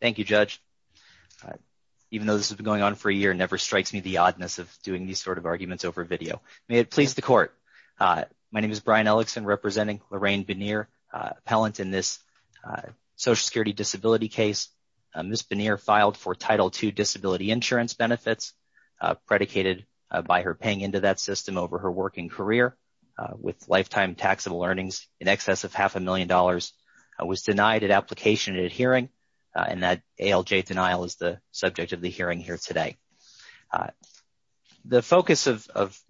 Thank you, Judge. Even though this has been going on for a year, it never strikes me the oddness of doing these sort of arguments over video. May it please the Court. My name is Brian Ellickson, representing Lorraine Benear, appellant in this Social Security disability case. Ms. Benear filed for Title II disability insurance benefits, predicated by her paying into that system over her working career, with lifetime taxable earnings in excess of half a million was denied at application at a hearing, and that ALJ denial is the subject of the hearing here today. The focus of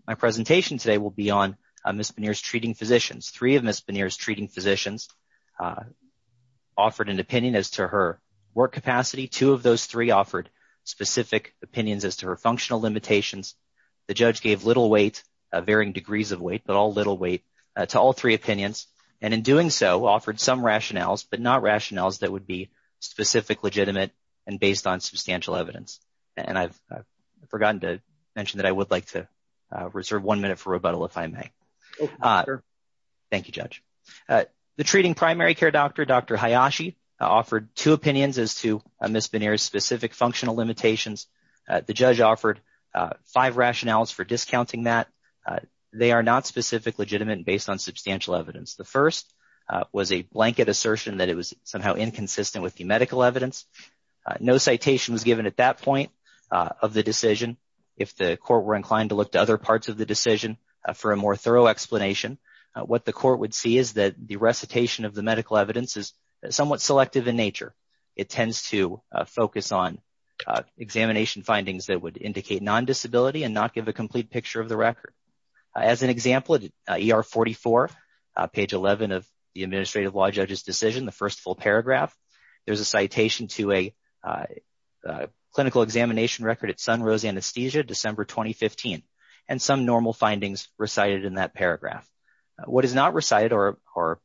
my presentation today will be on Ms. Benear's treating physicians. Three of Ms. Benear's treating physicians offered an opinion as to her work capacity. Two of those three offered specific opinions as to her functional limitations. The Judge gave little weight, varying degrees of weight, but all little weight, to all three opinions, and in doing so, offered some rationales, but not rationales that would be specific, legitimate, and based on substantial evidence. And I've forgotten to mention that I would like to reserve one minute for rebuttal, if I may. Thank you, Judge. The treating primary care doctor, Dr. Hayashi, offered two opinions as to Ms. Benear's specific functional limitations. The Judge offered five rationales for discounting that. They are not specific, legitimate, and based on substantial evidence. The first was a blanket assertion that it was somehow inconsistent with the medical evidence. No citation was given at that point of the decision. If the Court were inclined to look to other parts of the decision for a more thorough explanation, what the Court would see is that the recitation of the medical evidence is somewhat selective in nature. It tends to focus on examination findings that would indicate non-disability and not give a complete picture of the record. As an example, at ER44, page 11 of the Administrative Law Judge's decision, the first full paragraph, there's a citation to a clinical examination record at Sunrose Anesthesia, December 2015, and some normal findings recited in that paragraph. What is not recited are a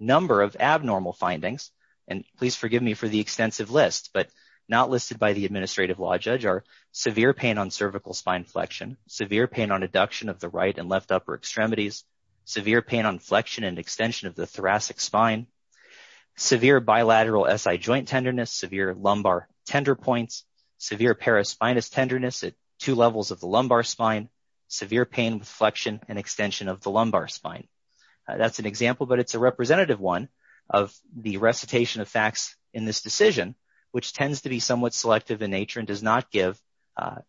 number of abnormal findings, and please forgive me for the extensive list, but not listed by the Administrative Law Judge are severe pain on cervical spine flexion, severe pain on adduction of the right and left upper extremities, severe pain on flexion and extension of the thoracic spine, severe bilateral SI joint tenderness, severe lumbar tender points, severe paraspinous tenderness at two levels of the lumbar spine, severe pain with flexion and extension of the lumbar spine. That's an example, but it's a representative one of the recitation of facts in this decision, which tends to be somewhat selective in nature and does not give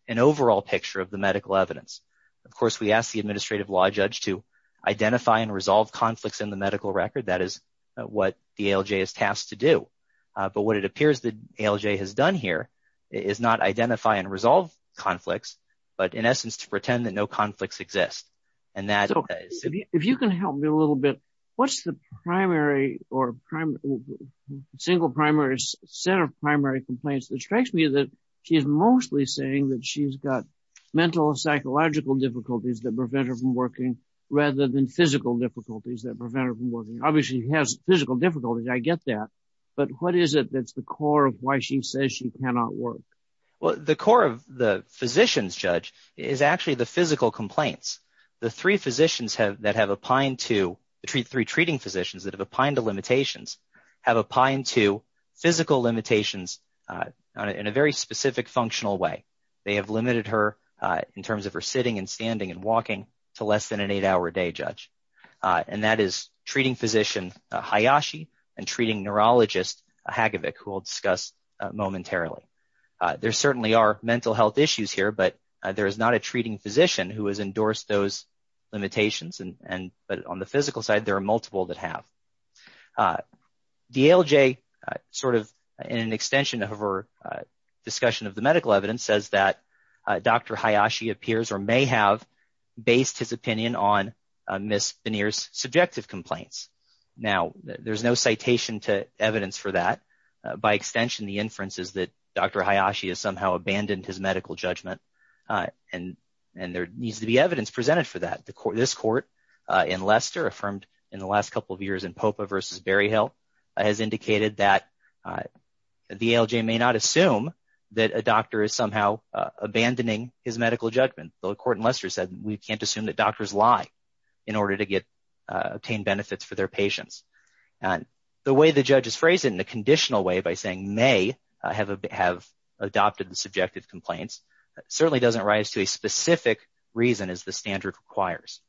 an overall picture of the medical evidence. Of course, we asked the Administrative Law Judge to identify and resolve conflicts in the medical record. That is what the ALJ is tasked to do, but what it appears the ALJ has done here is not identify and resolve conflicts, but in essence, to pretend that no conflicts exist. If you can help me a little bit, what's the primary or single primary set of primary complaints that strikes me that she is mostly saying that she's got mental and psychological difficulties that prevent her from working rather than physical difficulties that prevent her from working? Obviously, she has physical difficulties, I get that, but what is it that's the core of why she says she cannot work? Well, the core of the physician's judge is actually the physical complaints. The three physicians that have opined to, the three treating physicians that have opined to limitations, have opined to physical limitations in a very specific functional way. They have limited her in terms of her sitting and standing and walking to less than an eight-hour day, Judge, and that is treating physician Hayashi and treating neurologist Hagevic, who we'll discuss momentarily. There certainly are mental health issues here, but there is not a treating physician who has endorsed those limitations, but on the physical side, there are multiple that have. DLJ, sort of in an extension of her discussion of the medical evidence, says that Dr. Hayashi appears or may have based his opinion on Ms. Beneer's subjective complaints. Now, there's no citation to evidence for that. By extension, the inference is that Dr. Hayashi has somehow abandoned his medical judgment, and there needs to be evidence presented for that. This court in Leicester, affirmed in the last couple of years in Popa v. Berryhill, has indicated that the ALJ may not assume that a doctor is somehow abandoning his medical judgment. The court in Leicester said we can't assume that doctors lie in order to obtain benefits for their subjective complaints. It certainly doesn't rise to a specific reason, as the standard requires.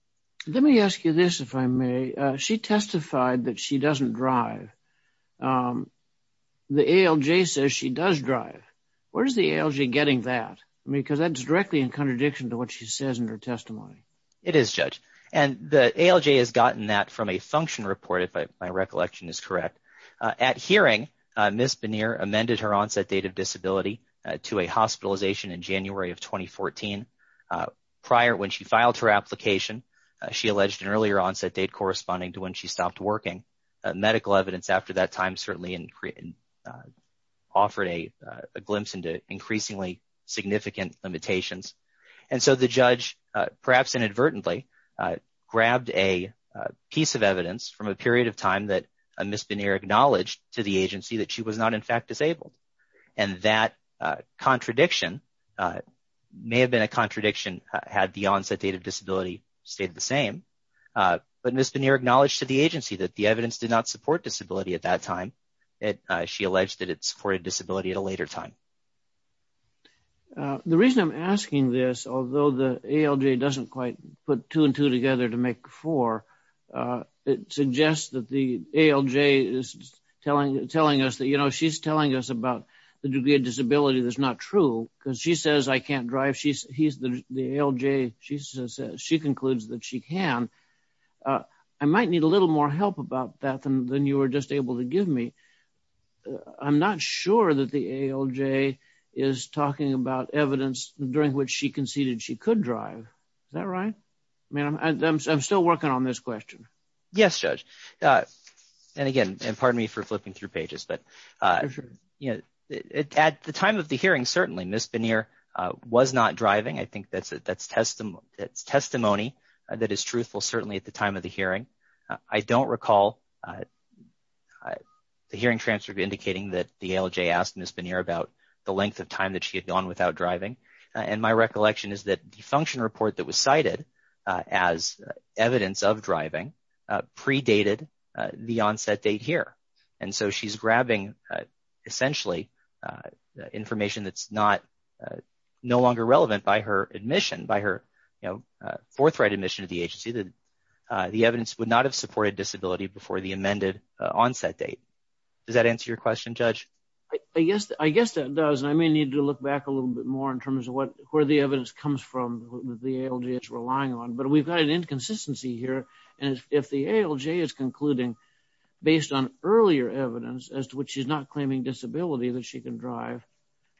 Let me ask you this, if I may. She testified that she doesn't drive. The ALJ says she does drive. Where's the ALJ getting that? I mean, because that's directly in contradiction to what she says in her testimony. It is, Judge, and the ALJ has gotten that from a function report, if my recollection is correct. At hearing, Ms. Bonner amended her onset date of disability to a hospitalization in January of 2014. Prior, when she filed her application, she alleged an earlier onset date corresponding to when she stopped working. Medical evidence after that time certainly offered a glimpse into increasingly significant limitations. So, the judge, perhaps inadvertently, grabbed a piece of evidence from a period of time that Ms. Bonner acknowledged to the agency that she was not, in fact, disabled. And that contradiction may have been a contradiction had the onset date of disability stayed the same. But Ms. Bonner acknowledged to the agency that the evidence did not support disability at that time. She alleged that it supported disability at a later time. The reason I'm asking this, although the ALJ doesn't quite put two and two together to make four, it suggests that the ALJ is telling us that, you know, she's telling us about the degree of disability that's not true. Because she says I can't drive. She concludes that she can. I might need a little more help about that than you were just able to give me. I'm not sure that the ALJ is talking about evidence during which she conceded she could drive. Is that right? I mean, I'm still working on this question. Yes, Judge. And again, and pardon me for flipping through pages, but at the time of the hearing, certainly Ms. Bonner was not driving. I think that's testimony that is truthful, certainly at the time of the hearing. I don't recall the hearing transcript indicating that the ALJ asked Ms. Bonner about the length of time that she had gone without driving. And my recollection is that the function report that was cited as evidence of driving predated the onset date here. And so she's grabbing essentially information that's no longer relevant by her admission, by her forthright admission to the agency, that the evidence would not have supported disability before the amended onset date. Does that answer your question, Judge? I guess that does. I may need to look back a little bit more in terms of where the evidence comes from that the ALJ is relying on, but we've got an inconsistency here. And if the ALJ is concluding based on earlier evidence as to which she's not claiming disability that she can drive,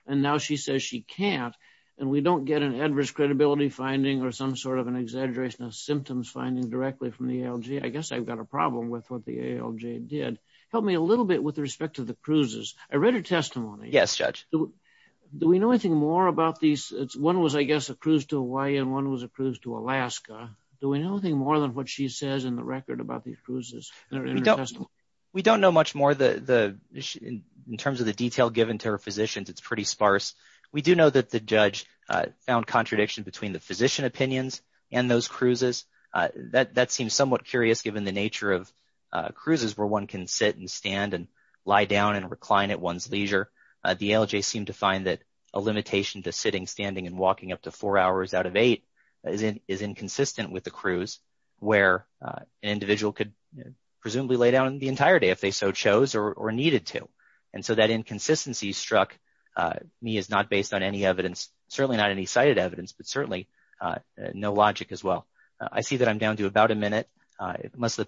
and now she says she can't, and we don't get an adverse credibility finding or some sort of an exaggeration of symptoms finding directly from the ALJ, I guess I've got a problem with what the ALJ did. Help me a little bit with respect to the cruises. I read her testimony. Yes, Judge. Do we know anything more about these? One was, I guess, a cruise to Hawaii and one was a cruise to Alaska. Do we know anything more than what she says in the record about these cruises? We don't know much more in terms of the detail given to her physicians. It's pretty sparse. We do know that the judge found contradiction between the physician opinions and those cruises. That seems somewhat curious given the nature of the ALJ. I mean, one can sit and stand and lie down and recline at one's leisure. The ALJ seemed to find that a limitation to sitting, standing, and walking up to four hours out of eight is inconsistent with the cruise, where an individual could presumably lay down the entire day if they so chose or needed to. And so that inconsistency struck me as not based on any evidence, certainly not any cited evidence, but certainly no logic as well. I see that I'm down to about a minute. Unless the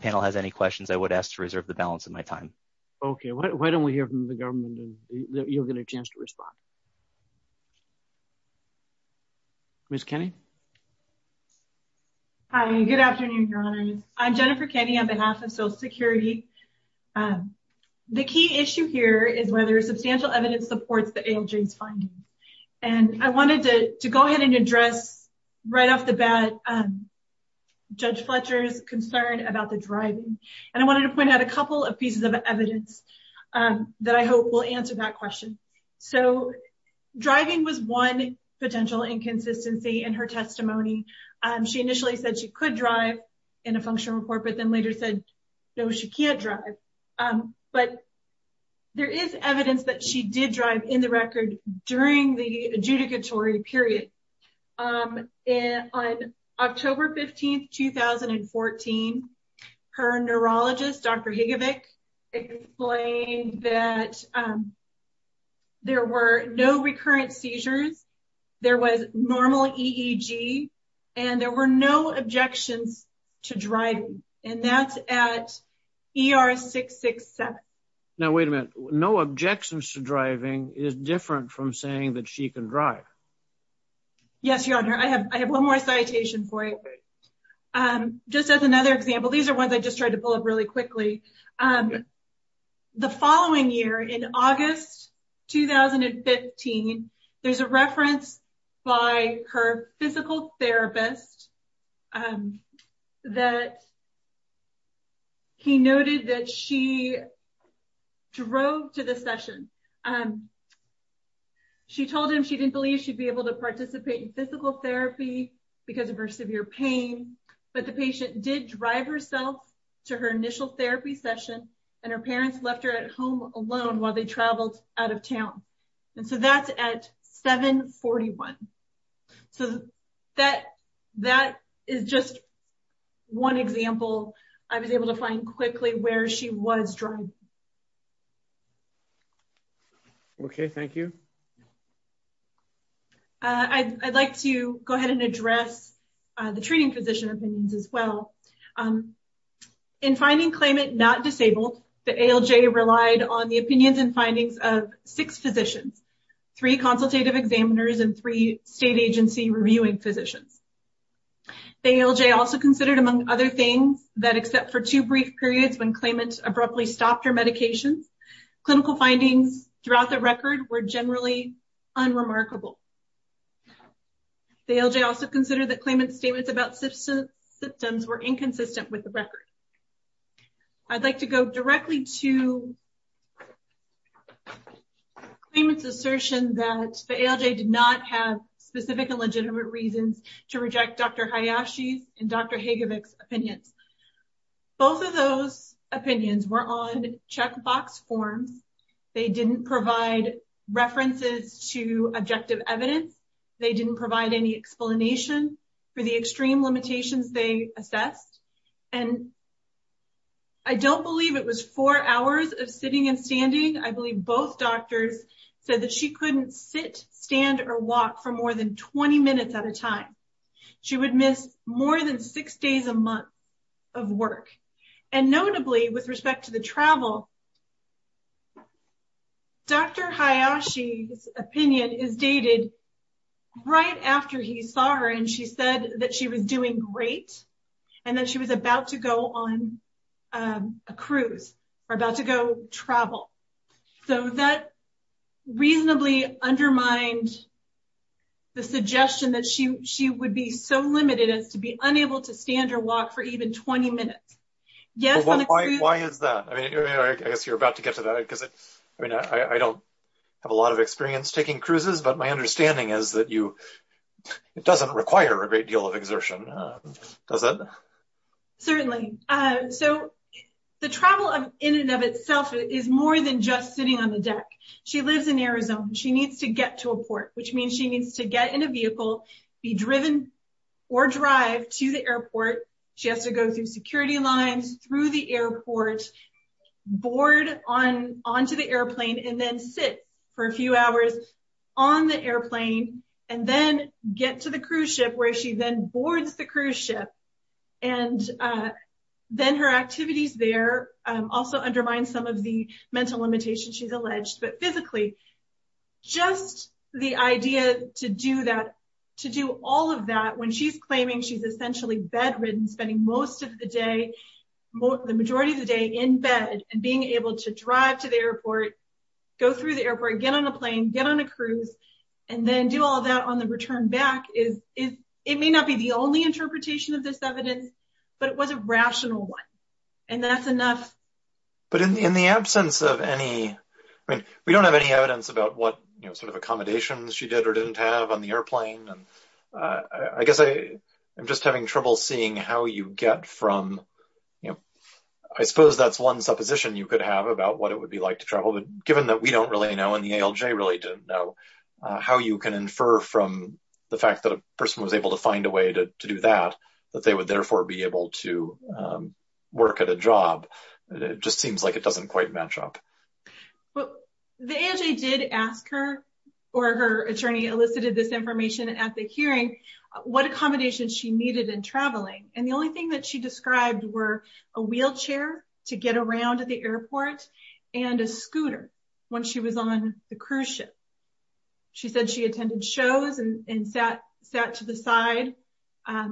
time. Okay, why don't we hear from the government and you'll get a chance to respond. Ms. Kenney? Hi, good afternoon, Your Honors. I'm Jennifer Kenney on behalf of Social Security. The key issue here is whether substantial evidence supports the ALJ's finding. And I wanted to go ahead and address right off the bat Judge Fletcher's concern about the driving. And I wanted to point out a couple of pieces of evidence that I hope will answer that question. So driving was one potential inconsistency in her testimony. She initially said she could drive in a functional report, but then later said, no, she can't drive. But there is evidence that she did drive in the record during the adjudicatory period. On October 15, 2014, her neurologist, Dr. Higovic, explained that there were no recurrent seizures, there was normal EEG, and there were no objections to driving. And that's at ER 667. Now, wait a minute, no objections to driving is different from saying that she can drive? Yes, Your Honor, I have one more citation for you. Just as another example, these are ones I just tried to pull up really quickly. The following year in August 2015, there's a reference by her drove to the session. She told him she didn't believe she'd be able to participate in physical therapy because of her severe pain. But the patient did drive herself to her initial therapy session, and her parents left her at home alone while they traveled out of town. And so that's at ER 647. So that is just one example I was able to find quickly where she was driving. Okay, thank you. I'd like to go ahead and address the treating physician opinions as well. In finding claimant not disabled, the ALJ relied on the opinions and findings of six physicians, three consultative examiners and three state agency reviewing physicians. The ALJ also considered, among other things, that except for two brief periods when claimant abruptly stopped her medications, clinical findings throughout the record were generally unremarkable. The ALJ also considered that claimant's statements about symptoms were inconsistent with the record. I'd like to go directly to claimant's assertion that the ALJ did not have specific and legitimate reasons to reject Dr. Hayashi's and Dr. Hagevic's opinions. Both of those opinions were on checkbox forms. They didn't provide references to objective evidence. They didn't provide any explanation for the extreme limitations they assessed. And I don't believe it was four hours of sitting and standing. I believe both doctors said that she couldn't sit, stand or walk for more than 20 minutes at a time. She would miss more than six days a month of work. And notably, with respect to the travel, Dr. Hayashi's opinion is dated right after he saw her and she said that she was doing great and that she was about to go on a cruise or about to go travel. So, that reasonably undermined the suggestion that she would be so limited as to be unable to stand or walk for even 20 minutes. Yes, on a cruise... Why is that? I guess you're about to get to that because I don't have a lot of experience taking cruises, but my understanding is that it doesn't require a great deal of exertion, does it? Certainly. So, the travel in and of itself is more than just sitting on the deck. She lives in Arizona. She needs to get to a port, which means she needs to get in a vehicle, be driven or drive to the airport. She has to go through security lines, through the airport, board onto the airplane and then sit for a few hours on the airplane and then get to the cruise ship where she then boards the cruise ship. And then her activities there also undermine some of the mental limitations she's alleged. But physically, just the idea to do all of that when she's claiming she's essentially bedridden, spending most of the day, the majority of the day in bed and being able to drive to the airport, go through the airport, get on a plane, get on a cruise and then do all of that on the return back is... It may not be the only interpretation of this evidence, but it was a rational one. And that's enough. But in the absence of any... I mean, we don't have any evidence about what sort of accommodations she did or didn't have on the airplane. I guess I'm just having trouble seeing how you get from... I suppose that's one supposition you could have about what it would be like to travel. But given that we don't really know and the ALJ really didn't know, how you can infer from the fact that a person was able to find a way to do that, that they would therefore be able to work at a job. It just seems like it doesn't quite match up. Well, the ALJ did ask her or her attorney elicited this information at the hearing, what accommodations she needed in traveling. And the only thing that she described were a wheelchair to get around at the airport and a scooter when she was on the cruise ship. She said she attended shows and sat to the side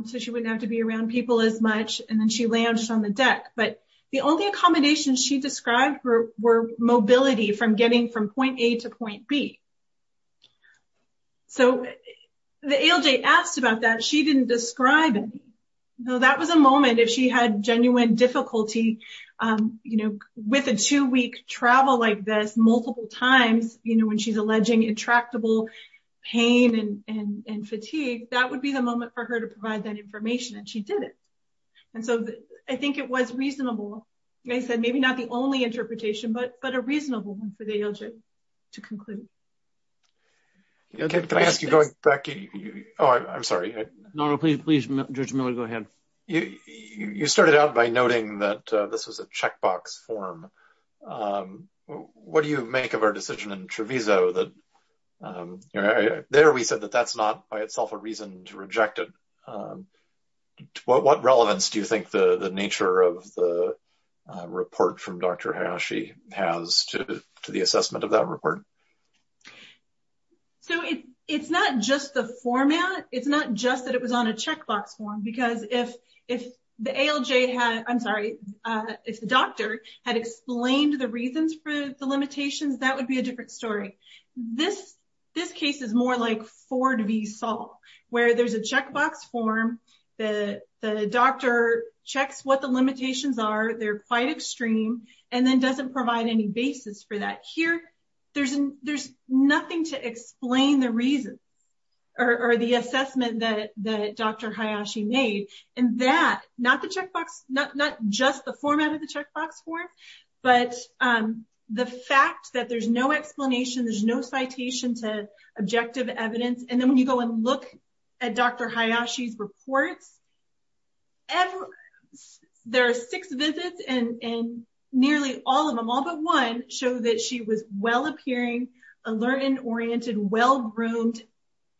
so she wouldn't have to be around people as much. And then she launched on the deck. But the only accommodations she described were mobility from getting from point A to point B. So the ALJ asked about that. She didn't describe it. So that was a moment if she had genuine difficulty with a two-week travel like this multiple times, when she's alleging intractable pain and fatigue, that would be the moment for her to provide that information and she did it. And so I think it was reasonable. Like I said, maybe not the only interpretation, but a reasonable one for the ALJ to conclude. Okay. Can I ask you going back? Oh, I'm sorry. No, no, please, please, Judge Miller, go ahead. You started out by noting that this was a checkbox form. What do you make of our decision in Treviso that there we said that that's not by itself a reason to reject it? What relevance do you think the nature of the report from Dr. Hayashi has to the assessment of that report? So it's not just the format. It's not just that it was on a checkbox form because if the ALJ had, I'm sorry, if the doctor had explained the reasons for the limitations, that would be a different story. This case is more like Ford v. Saul, where there's a checkbox form, the doctor checks what the limitations are, they're quite extreme, and then doesn't provide any basis for that. Here, there's nothing to explain the reasons or the assessment that Dr. Hayashi made in that, not just the format of the checkbox form, but the fact that there's no explanation, there's no citation to objective evidence. And then when you go and look at Dr. Hayashi's report, all three of them show that she was well-appearing, alert and oriented, well-groomed,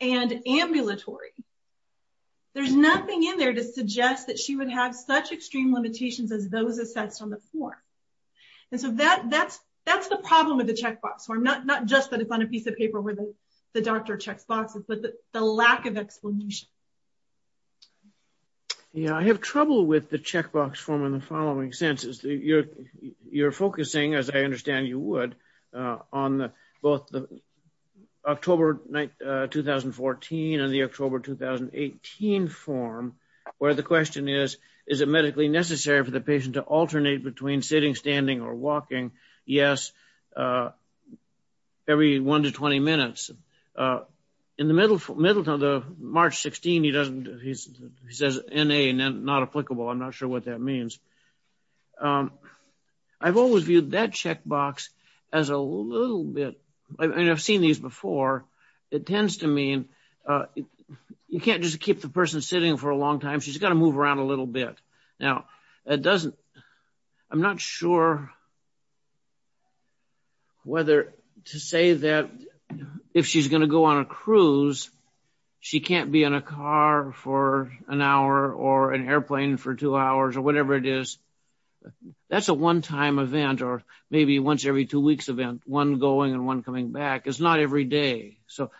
and ambulatory. There's nothing in there to suggest that she would have such extreme limitations as those assessed on the form. And so that's the problem with the checkbox form, not just that it's on a piece of paper where the doctor checks boxes, but the lack of explanation. Yeah, I have trouble with the checkbox form in the following senses. You're focusing, as I understand you would, on both the October 2014 and the October 2018 form, where the question is, is it medically necessary for the patient to alternate between sitting, standing, or walking? Yes, every one to 20 minutes. In the middle of March 16, he says NA, not applicable. I'm not sure what that means. I've always viewed that checkbox as a little bit, and I've seen these before, it tends to mean you can't just keep the person sitting for a long time. She's got to move around a little bit. Now, I'm not sure whether to say that if she's going to go on a cruise, she can't be in a car for an hour or an airplane for two hours or whatever it is. That's a one-time event, or maybe once every two weeks event, one going and one coming back. It's not every day. So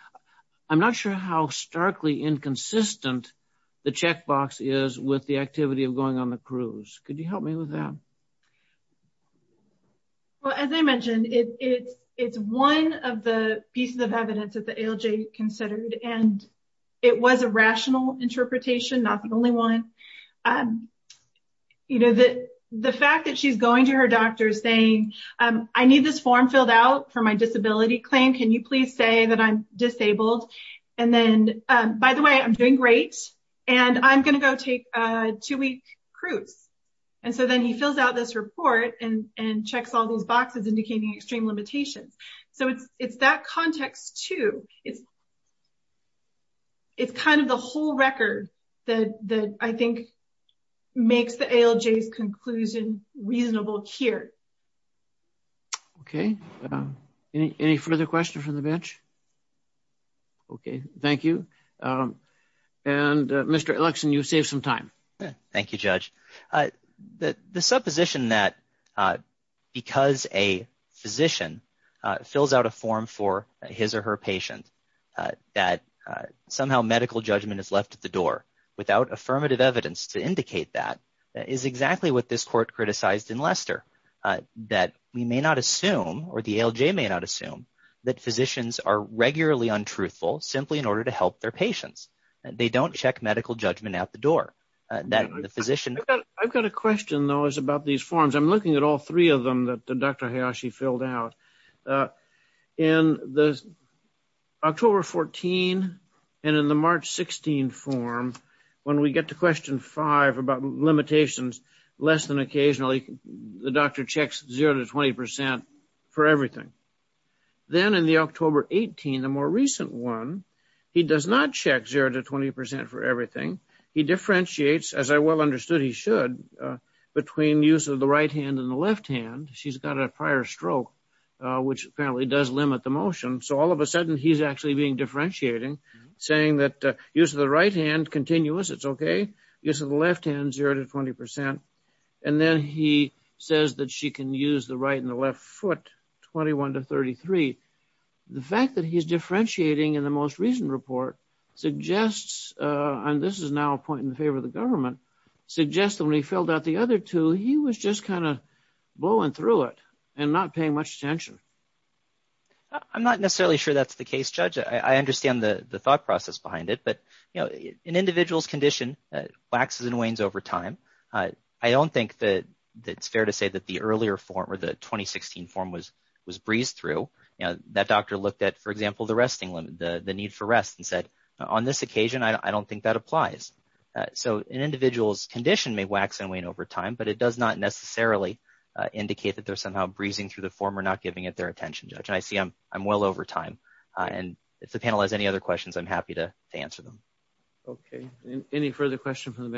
I'm not sure how starkly inconsistent the checkbox is with the activity of going on the cruise. Could you help me with that? Well, as I mentioned, it's one of the pieces evidence that the ALJ considered, and it was a rational interpretation, not the only one. The fact that she's going to her doctor saying, I need this form filled out for my disability claim. Can you please say that I'm disabled? And then, by the way, I'm doing great, and I'm going to go take a two-week cruise. And so then he fills out this report and checks all boxes indicating extreme limitations. So it's that context too. It's kind of the whole record that I think makes the ALJ's conclusion reasonable here. Okay. Any further questions from the bench? Okay. Thank you. And Mr. Elickson, you saved some time. Thank you, Judge. The supposition that because a physician fills out a form for his or her patient, that somehow medical judgment is left at the door without affirmative evidence to indicate that is exactly what this court criticized in Lester. That we may not assume, or the ALJ may not assume, that physicians are regularly untruthful simply in order to help their patients. They don't check medical judgment out the door. I've got a question, though, is about these forms. I'm looking at all three of them that Dr. Hayashi filled out. In the October 14 and in the March 16 form, when we get to question five about limitations, less than occasionally, the doctor checks zero to 20% for everything. Then in the October 18, the more recent one, he does not check zero to 20% for everything. He differentiates, as I well understood he should, between use of the right hand and the left hand. She's got a prior stroke, which apparently does limit the motion. So all of a sudden he's actually being differentiating, saying that use of the right hand, continuous, it's okay. Use of the left hand, zero to 20%. And then he says that she can use the right and the left foot, 21 to 33. The fact that he's differentiating in the most recent report suggests, and this is now a point in favor of the government, suggests that when he filled out the other two, he was just kind of blowing through it and not paying much attention. I'm not necessarily sure that's the case, Judge. I understand the thought process behind it, but you know, an individual's condition waxes and wanes over time. I don't think that it's fair to say that the earlier form, or the 2016 form, was breezed through. You know, that doctor looked at, for example, the resting limit, the need for rest, and said, on this occasion, I don't think that applies. So an individual's condition may wax and wane over time, but it does not necessarily indicate that they're somehow breezing through the form or not giving it their attention, Judge. I see I'm well over time and if the panel has any other questions, I'm happy to answer them. Okay, any further questions from the panel?